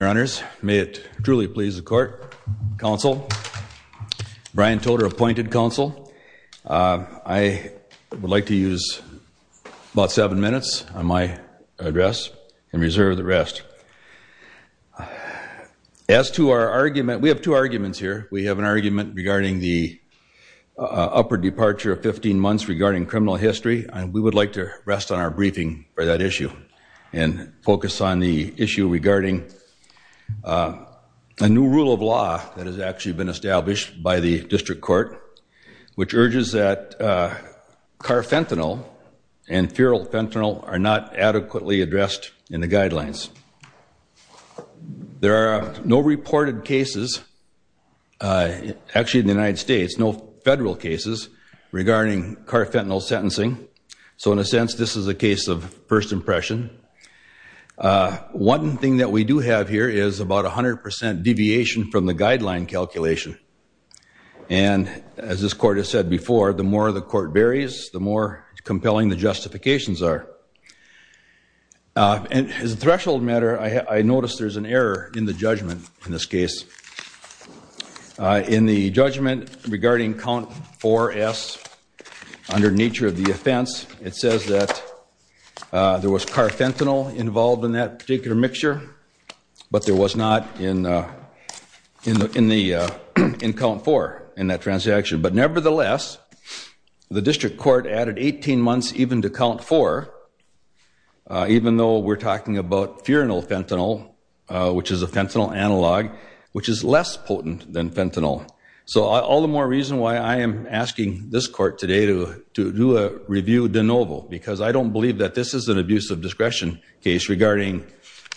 Your honors, may it truly please the court, counsel, Brian Toter, appointed counsel, I would like to use about seven minutes on my address and reserve the rest. As to our argument, we have two arguments here. We have an argument regarding the upper departure of 15 months regarding criminal history, and we would like to rest on our briefing for that issue and focus on the issue regarding a new rule of law that has actually been established by the district court, which urges that carfentanil and feral fentanyl are not adequately addressed in the guidelines. There are no reported cases, actually in the United States, no federal cases regarding carfentanil sentencing, so in a sense this is a case of first impression. One thing that we do have here is about 100% deviation from the guideline calculation, and as this court has said before, the more the court varies, the more compelling the justifications are. As a threshold matter, I notice there's an error in the judgment in this case. In the judgment regarding count four S, under nature of the offense, it says that there was carfentanil involved in that particular mixture, but there was not in count four in that transaction. But nevertheless, the district court added 18 months even to count four, even though we're talking about furanil fentanyl, which is a fentanyl analog, which is less potent than fentanyl. So all the more reason why I am asking this court today to do a review de novo, because I don't believe that this is an abuse of discretion case regarding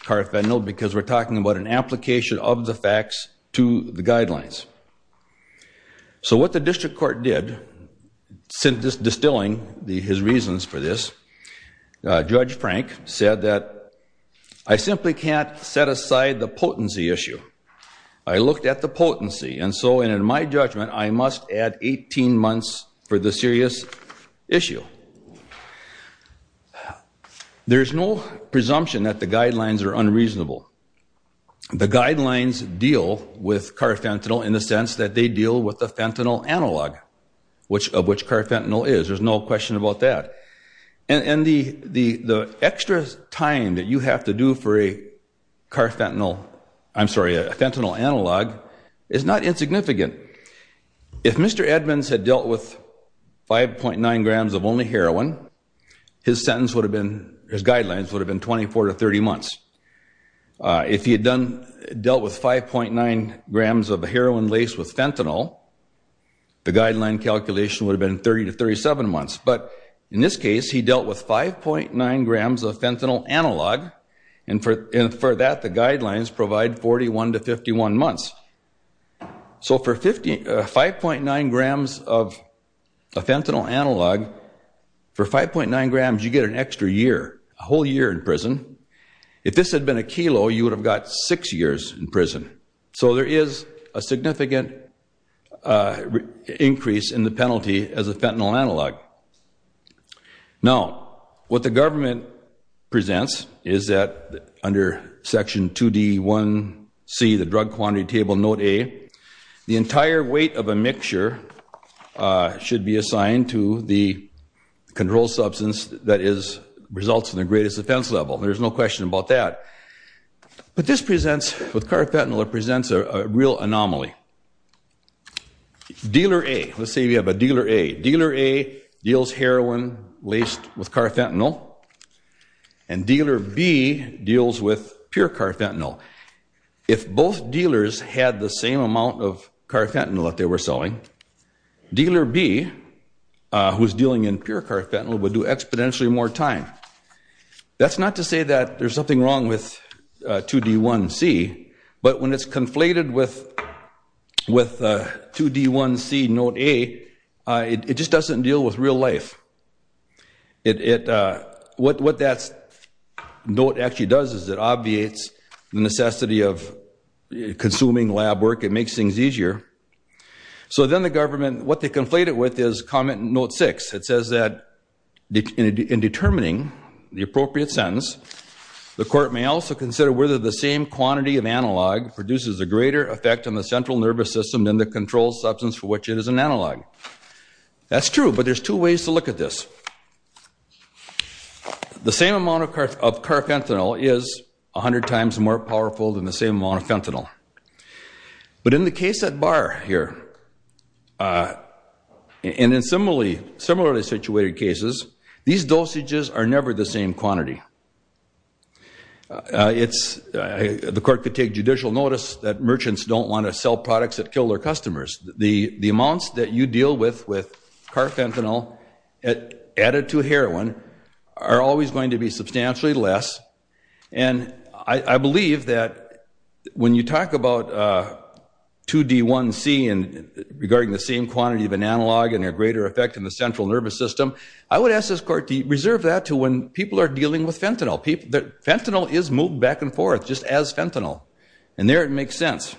carfentanil, because we're talking about an application of the facts to the guidelines. So what the district court did, distilling his reasons for this, Judge Frank said that I simply can't set aside the potency issue. I looked at the potency, and so in my judgment, I must add 18 months for the serious issue. There's no presumption that the guidelines are unreasonable. The guidelines deal with carfentanil in the sense that they deal with the fentanyl analog, of which carfentanil is. There's no question about that. And the extra time that you have to do for a carfentanil, I'm sorry, a fentanyl analog is not insignificant. If Mr. Edmonds had dealt with 5.9 grams of only heroin, his sentence would have been, his guidelines would have been 24 to 30 months. If he had dealt with 5.9 grams of heroin laced with fentanyl, the guideline calculation would have been 30 to 37 months. But in this case, he dealt with 5.9 grams of fentanyl analog, and for that, the guidelines provide 41 to 51 months. So for 5.9 grams of a fentanyl analog, for 5.9 grams, you get an extra year, a whole year in prison. If this had been a kilo, you would have got six years in prison. So there is a significant increase in the penalty as a fentanyl analog. Now, what the government presents is that under Section 2D1C, the Drug Quantity Table, Note A, the entire weight of a mixture should be assigned to the controlled substance that results in the greatest offense level. There's no question about that. But this presents, with carfentanil, it presents a real anomaly. Dealer A, let's say we have a Dealer A. Dealer A deals heroin laced with carfentanil, and Dealer B deals with pure carfentanil. If both dealers had the same amount of carfentanil that they were selling, Dealer B, who's dealing in pure carfentanil, would do exponentially more time. That's not to say that there's something wrong with 2D1C, but when it's conflated with 2D1C, Note A, it just doesn't deal with real life. What that note actually does is it obviates the necessity of consuming lab work. It makes things easier. So then the government, what they conflate it with is Comment Note 6. It says that in determining the appropriate sentence, the court may also consider whether the same quantity of analog produces a greater effect on the central nervous system than the controlled substance for which it is an analog. That's true, but there's two ways to look at this. The same amount of carfentanil is 100 times more powerful than the same amount of fentanyl. But in the case at Barr here, and in similarly situated cases, these dosages are never the same quantity. The court could take judicial notice that merchants don't want to sell products that kill their customers. The amounts that you deal with with carfentanil added to heroin are always going to be substantially less, and I believe that when you talk about 2D1C regarding the same quantity of an analog and a greater effect on the central nervous system, I would ask this court to reserve that to when people are dealing with fentanyl. Fentanyl is moved back and forth just as fentanyl, and there it makes sense.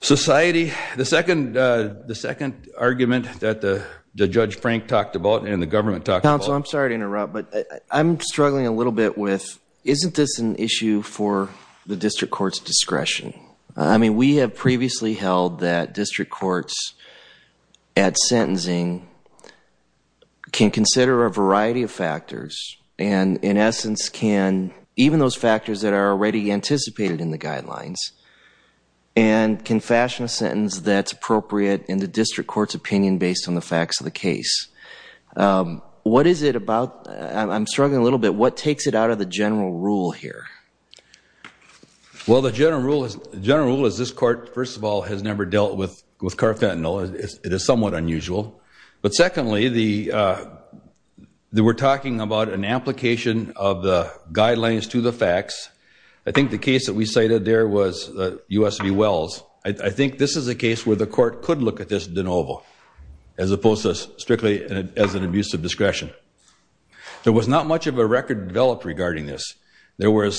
Society, the second argument that Judge Frank talked about and the government talked about. So I'm sorry to interrupt, but I'm struggling a little bit with, isn't this an issue for the district court's discretion? I mean, we have previously held that district courts at sentencing can consider a variety of factors, and in essence can, even those factors that are already anticipated in the guidelines, and can fashion a sentence that's appropriate in the district court's opinion based on the facts of the case. What is it about, I'm struggling a little bit, what takes it out of the general rule here? Well, the general rule is this court, first of all, has never dealt with carfentanil. It is somewhat unusual. But secondly, we're talking about an application of the guidelines to the facts. I think the case that we cited there was USV Wells. I think this is a case where the court could look at this de novo, as opposed to strictly as an abuse of discretion. There was not much of a record developed regarding this. There were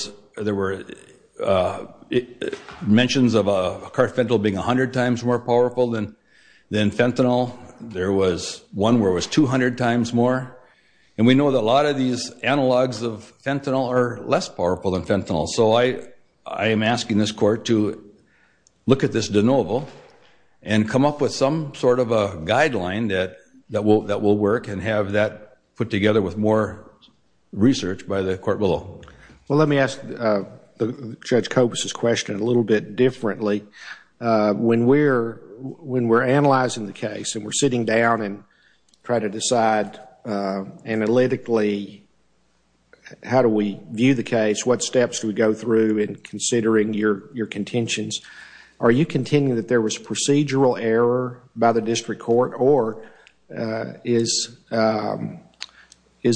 mentions of carfentanil being 100 times more powerful than fentanyl. There was one where it was 200 times more. And we know that a lot of these analogs of fentanyl are less powerful than fentanyl. So I am asking this court to look at this de novo, and come up with some sort of a guideline that will work, and have that put together with more research by the court below. Well, let me ask Judge Kobus' question a little bit differently. When we're analyzing the case, and we're sitting down and try to decide analytically, how do we view the case? What steps do we go through in considering your contentions? Are you contending that there was procedural error by the district court, or is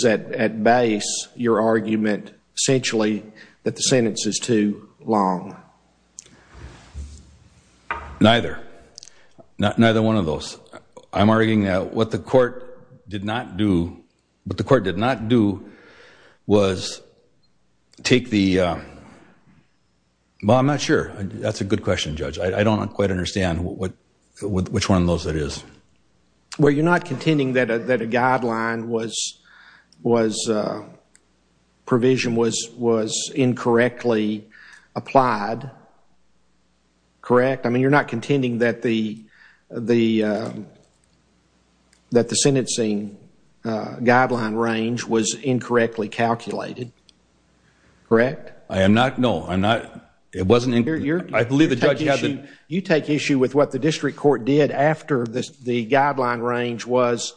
at base your argument essentially that the sentence is too long? Neither. Neither one of those. I'm arguing that what the court did not do was take the – well, I'm not sure. That's a good question, Judge. I don't quite understand which one of those it is. Well, you're not contending that a guideline was – provision was incorrectly applied, correct? I mean, you're not contending that the sentencing guideline range was incorrectly calculated, correct? I am not. No, I'm not. It wasn't – You take issue with what the district court did after the guideline range was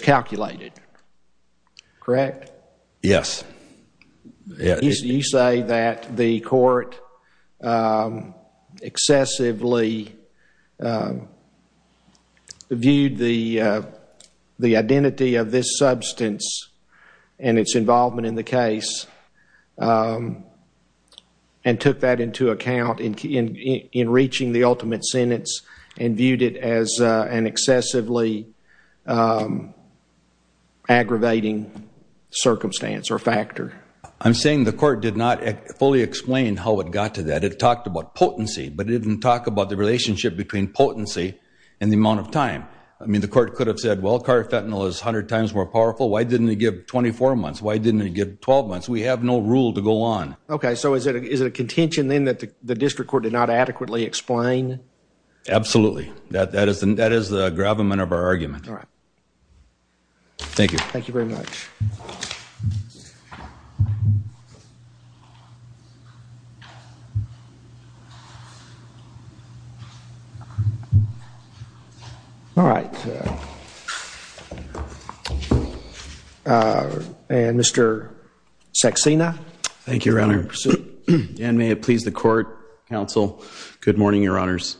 calculated, correct? Yes. You say that the court excessively viewed the identity of this substance and its involvement in the case, and took that into account in reaching the ultimate sentence and viewed it as an excessively aggravating circumstance or factor. I'm saying the court did not fully explain how it got to that. It talked about potency, but it didn't talk about the relationship between potency and the amount of time. I mean, the court could have said, well, carfentanil is 100 times more powerful. Why didn't it give 24 months? Why didn't it give 12 months? We have no rule to go on. Okay, so is it a contention then that the district court did not adequately explain? Absolutely. That is the gravamen of our argument. All right. Thank you. Thank you very much. All right. Mr. Saxena. Thank you, Your Honor. Dan, may it please the court, counsel. Good morning, Your Honors.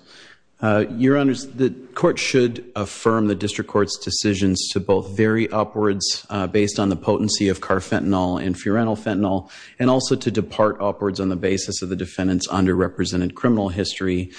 Your Honors, the court should affirm the district court's decisions to both vary upwards based on the potency of carfentanil and furanofentanil, and also to depart upwards on the basis of the defendant's underrepresented criminal history.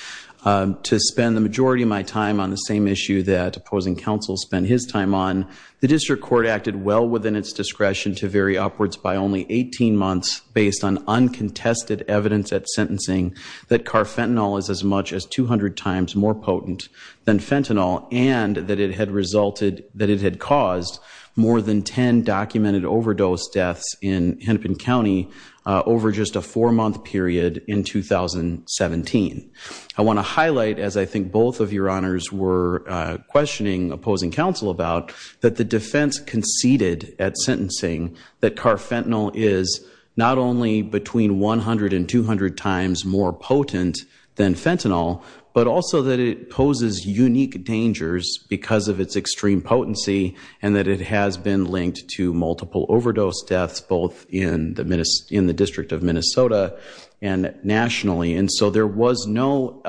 To spend the majority of my time on the same issue that opposing counsel spent his time on, the district court acted well within its discretion to vary upwards by only 18 months based on uncontested evidence at sentencing that carfentanil is as much as 200 times more potent than fentanyl and that it had resulted, that it had caused more than 10 documented overdose deaths in Hennepin County over just a four-month period in 2017. I want to highlight, as I think both of Your Honors were questioning opposing counsel about, that the defense conceded at sentencing that carfentanil is not only between 100 and 200 times more potent than fentanyl, but also that it poses unique dangers because of its extreme potency and that it has been linked to multiple overdose deaths both in the district of Minnesota and nationally. And so there was no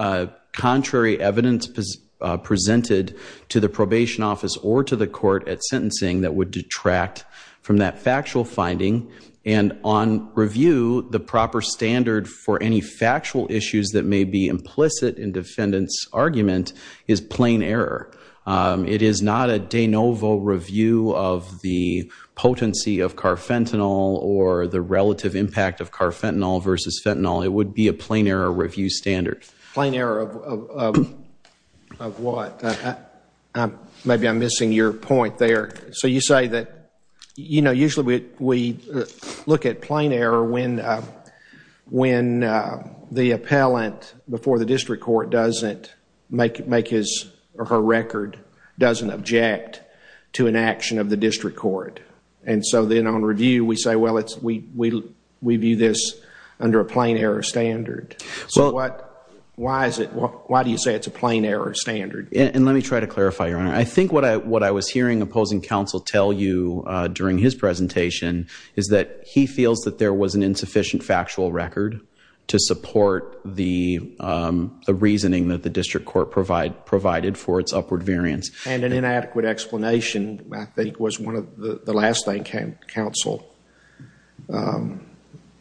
contrary evidence presented to the probation office or to the court at sentencing that would detract from that factual finding. And on review, the proper standard for any factual issues that may be implicit in defendant's argument is plain error. It is not a de novo review of the potency of carfentanil or the relative impact of carfentanil versus fentanyl. It would be a plain error review standard. Plain error of what? Maybe I'm missing your point there. So you say that, you know, usually we look at plain error when the appellant before the district court doesn't make his or her record, doesn't object to an action of the district court. And so then on review we say, well, we view this under a plain error standard. So why do you say it's a plain error standard? And let me try to clarify, Your Honor. I think what I was hearing opposing counsel tell you during his presentation is that he feels that there was an insufficient factual record to support the reasoning that the district court provided for its upward variance. And an inadequate explanation I think was one of the last things counsel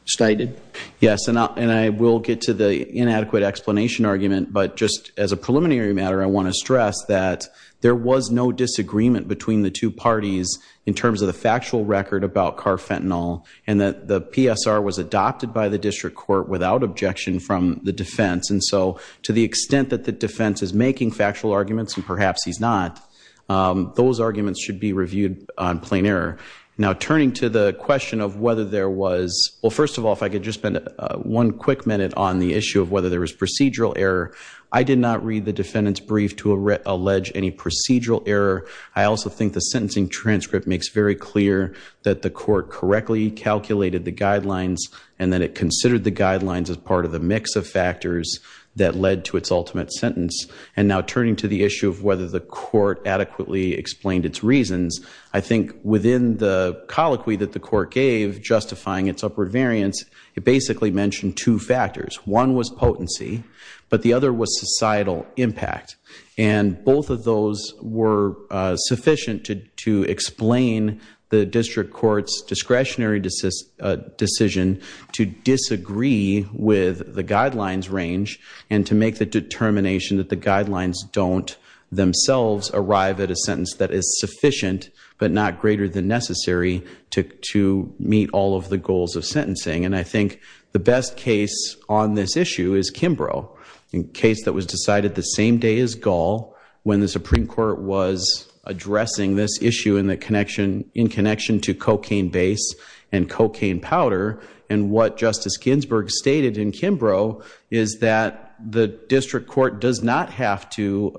stated. Yes, and I will get to the inadequate explanation argument. But just as a preliminary matter, I want to stress that there was no disagreement between the two parties in terms of the factual record about carfentanil and that the PSR was adopted by the district court without objection from the defense. And so to the extent that the defense is making factual arguments, and perhaps he's not, those arguments should be reviewed on plain error. Now, turning to the question of whether there was – well, first of all, if I could just spend one quick minute on the issue of whether there was procedural error. I did not read the defendant's brief to allege any procedural error. I also think the sentencing transcript makes very clear that the court correctly calculated the guidelines and that it considered the guidelines as part of the mix of factors that led to its ultimate sentence. And now turning to the issue of whether the court adequately explained its reasons, I think within the colloquy that the court gave justifying its upward variance, it basically mentioned two factors. One was potency, but the other was societal impact. And both of those were sufficient to explain the district court's discretionary decision to disagree with the guidelines range and to make the determination that the guidelines don't themselves arrive at a sentence that is sufficient but not greater than necessary to meet all of the goals of sentencing. And I think the best case on this issue is Kimbrough, a case that was decided the same day as Gaul when the Supreme Court was addressing this issue in connection to cocaine base and cocaine powder. And what Justice Ginsburg stated in Kimbrough is that the district court does not have to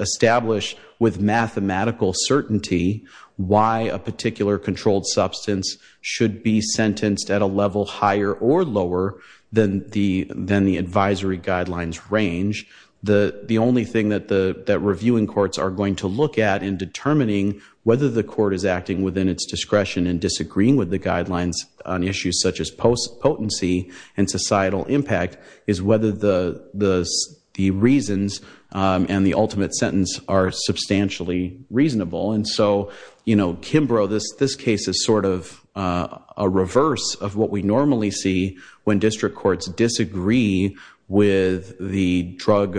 establish with mathematical certainty why a particular controlled substance should be sentenced at a level higher or lower than the advisory guidelines range. The only thing that reviewing courts are going to look at in determining whether the court is acting within its discretion in disagreeing with the guidelines on issues such as potency and societal impact is whether the reasons and the ultimate sentence are substantially reasonable. And so, you know, Kimbrough, this case is sort of a reverse of what we normally see when district courts disagree with the drug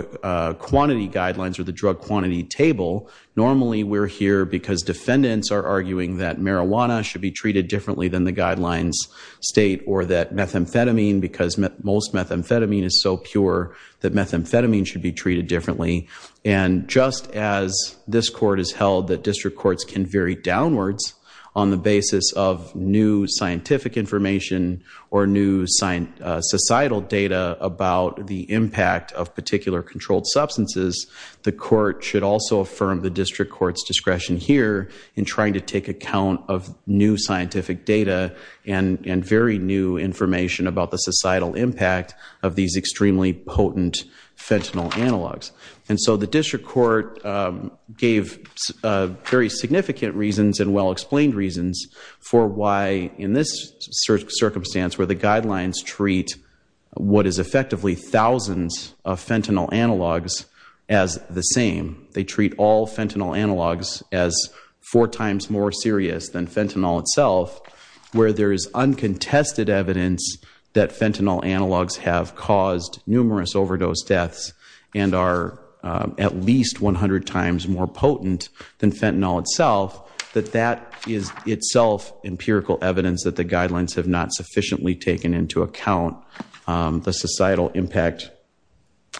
quantity guidelines or the drug quantity table. Normally we're here because defendants are arguing that marijuana should be treated differently than the guidelines state or that methamphetamine because most methamphetamine is so pure that methamphetamine should be treated differently. And just as this court has held that district courts can vary downwards on the basis of new scientific information or new societal data about the impact of particular controlled substances, the court should also affirm the district court's discretion here in trying to take account of new scientific data and very new information about the societal impact of these extremely potent fentanyl analogs. And so the district court gave very significant reasons and well-explained reasons for why in this circumstance where the guidelines treat what is effectively thousands of fentanyl analogs as the same. They treat all fentanyl analogs as four times more serious than fentanyl itself where there is uncontested evidence that fentanyl analogs have caused numerous overdose deaths and are at least 100 times more potent than fentanyl itself, that that is itself empirical evidence that the guidelines have not sufficiently taken into account the societal impact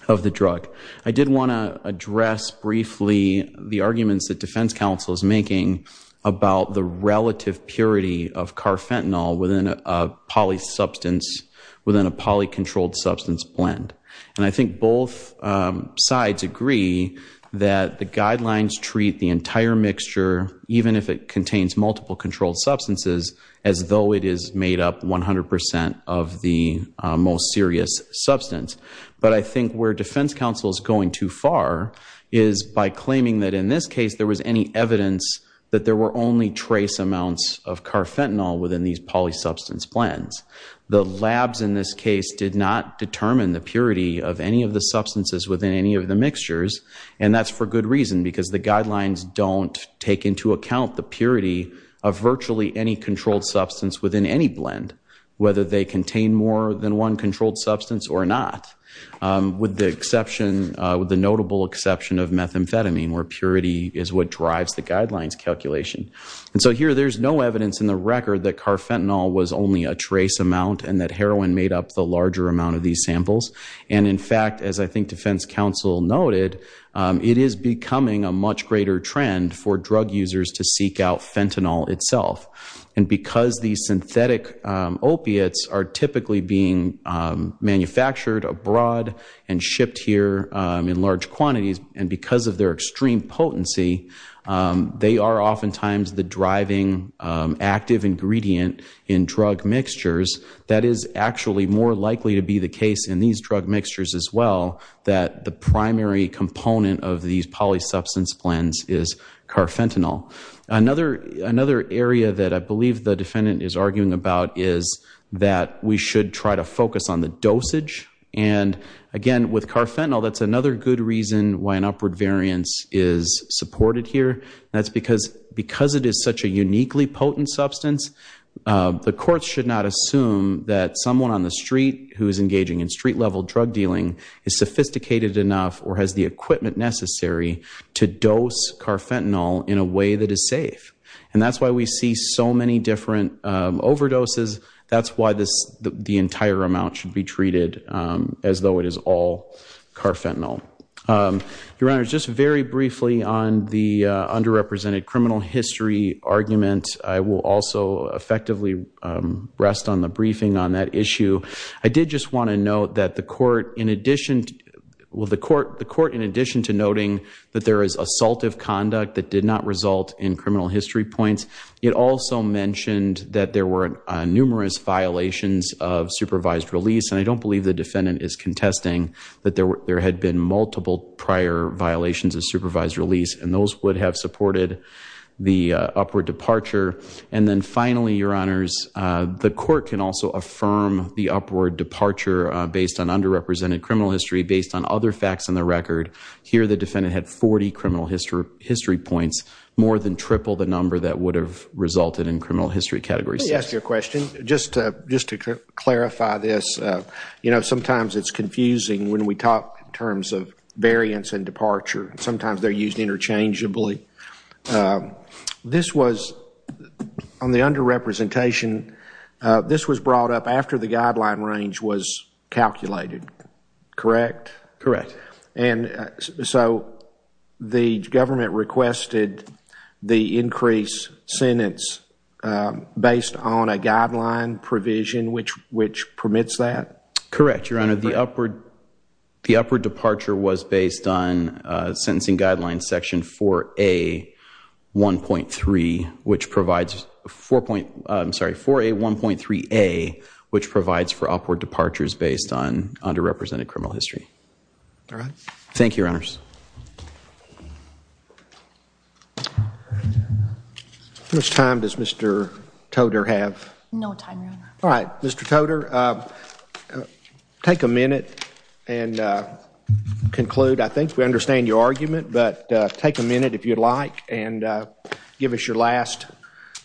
of the drug. I did want to address briefly the arguments that defense counsel is making about the relative purity of carfentanil within a poly substance, within a poly-controlled substance blend. And I think both sides agree that the guidelines treat the entire mixture, even if it contains multiple controlled substances, as though it is made up 100% of the most serious substance. But I think where defense counsel is going too far is by claiming that in this case there was any evidence that there were only trace amounts of carfentanil within these poly-substance blends. The labs in this case did not determine the purity of any of the substances within any of the mixtures, and that's for good reason because the guidelines don't take into account the purity of virtually any controlled substance within any blend, whether they contain more than one controlled substance or not, with the notable exception of methamphetamine, where purity is what drives the guidelines calculation. And so here there's no evidence in the record that carfentanil was only a trace amount and that heroin made up the larger amount of these samples. And in fact, as I think defense counsel noted, it is becoming a much greater trend for drug users to seek out fentanyl itself. And because these synthetic opiates are typically being manufactured abroad and shipped here in large quantities, and because of their extreme potency, they are oftentimes the driving active ingredient in drug mixtures. That is actually more likely to be the case in these drug mixtures as well, that the primary component of these poly-substance blends is carfentanil. Another area that I believe the defendant is arguing about is that we should try to focus on the dosage. And again, with carfentanil, that's another good reason why an upward variance is supported here. That's because it is such a uniquely potent substance, the courts should not assume that someone on the street who is engaging in street-level drug dealing is sophisticated enough or has the equipment necessary to dose carfentanil in a way that is safe. And that's why we see so many different overdoses. That's why the entire amount should be treated as though it is all carfentanil. Your Honor, just very briefly on the underrepresented criminal history argument, I will also effectively rest on the briefing on that issue. I did just want to note that the court, in addition to noting that there is assaultive conduct that did not result in criminal history points, it also mentioned that there were numerous violations of supervised release. And I don't believe the defendant is contesting that there had been multiple prior violations of supervised release, and those would have supported the upward departure. And then finally, Your Honors, the court can also affirm the upward departure based on underrepresented criminal history, based on other facts in the record. Here the defendant had 40 criminal history points, more than triple the number that would have resulted in criminal history category 6. Let me ask you a question, just to clarify this. You know, sometimes it's confusing when we talk in terms of variance and departure. Sometimes they're used interchangeably. This was, on the underrepresentation, this was brought up after the guideline range was calculated, correct? Correct. And so the government requested the increased sentence based on a guideline provision which permits that? Correct, Your Honor. The upward departure was based on sentencing guideline section 4A1.3A, which provides for upward departures based on underrepresented criminal history. All right. Thank you, Your Honors. How much time does Mr. Toder have? No time, Your Honor. All right. Mr. Toder, take a minute and conclude. I think we understand your argument, but take a minute if you'd like and give us your last,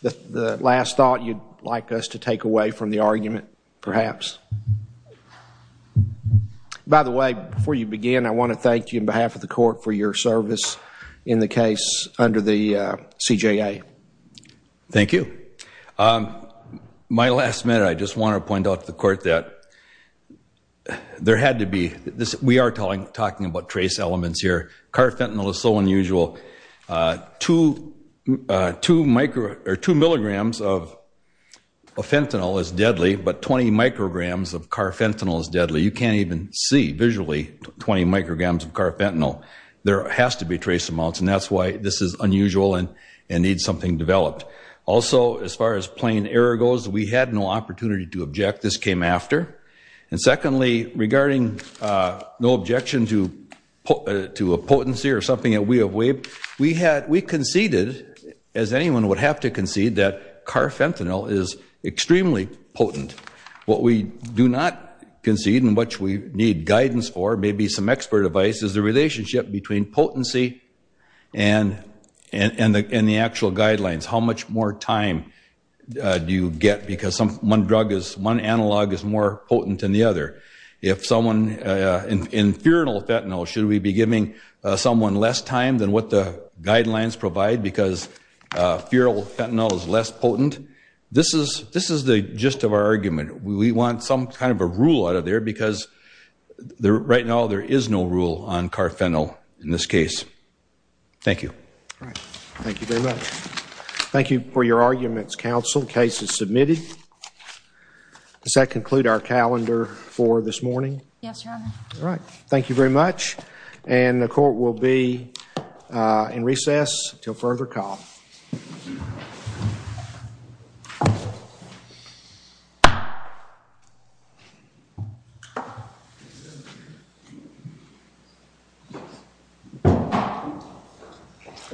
the last thought you'd like us to take away from the argument, perhaps. By the way, before you begin, I want to thank you on behalf of the court for your service in the case under the CJA. Thank you. My last minute, I just want to point out to the court that there had to be, we are talking about trace elements here. Carfentanil is so unusual. Two milligrams of fentanyl is deadly, but 20 micrograms of carfentanil is deadly. You can't even see visually 20 micrograms of carfentanil. There has to be trace amounts, and that's why this is unusual and needs something developed. Also, as far as plain error goes, we had no opportunity to object. This came after. And secondly, regarding no objection to a potency or something that we have waived, we conceded, as anyone would have to concede, that carfentanil is extremely potent. What we do not concede and what we need guidance for, maybe some expert advice, is the relationship between potency and the actual guidelines. How much more time do you get? Because one analog is more potent than the other. In infernal fentanyl, should we be giving someone less time than what the guidelines provide because feral fentanyl is less potent? This is the gist of our argument. We want some kind of a rule out of there because right now there is no rule on carfentanil in this case. Thank you. Thank you very much. Thank you for your arguments, counsel. Case is submitted. Does that conclude our calendar for this morning? Yes, Your Honor. All right. Thank you very much. And the court will be in recess until further call.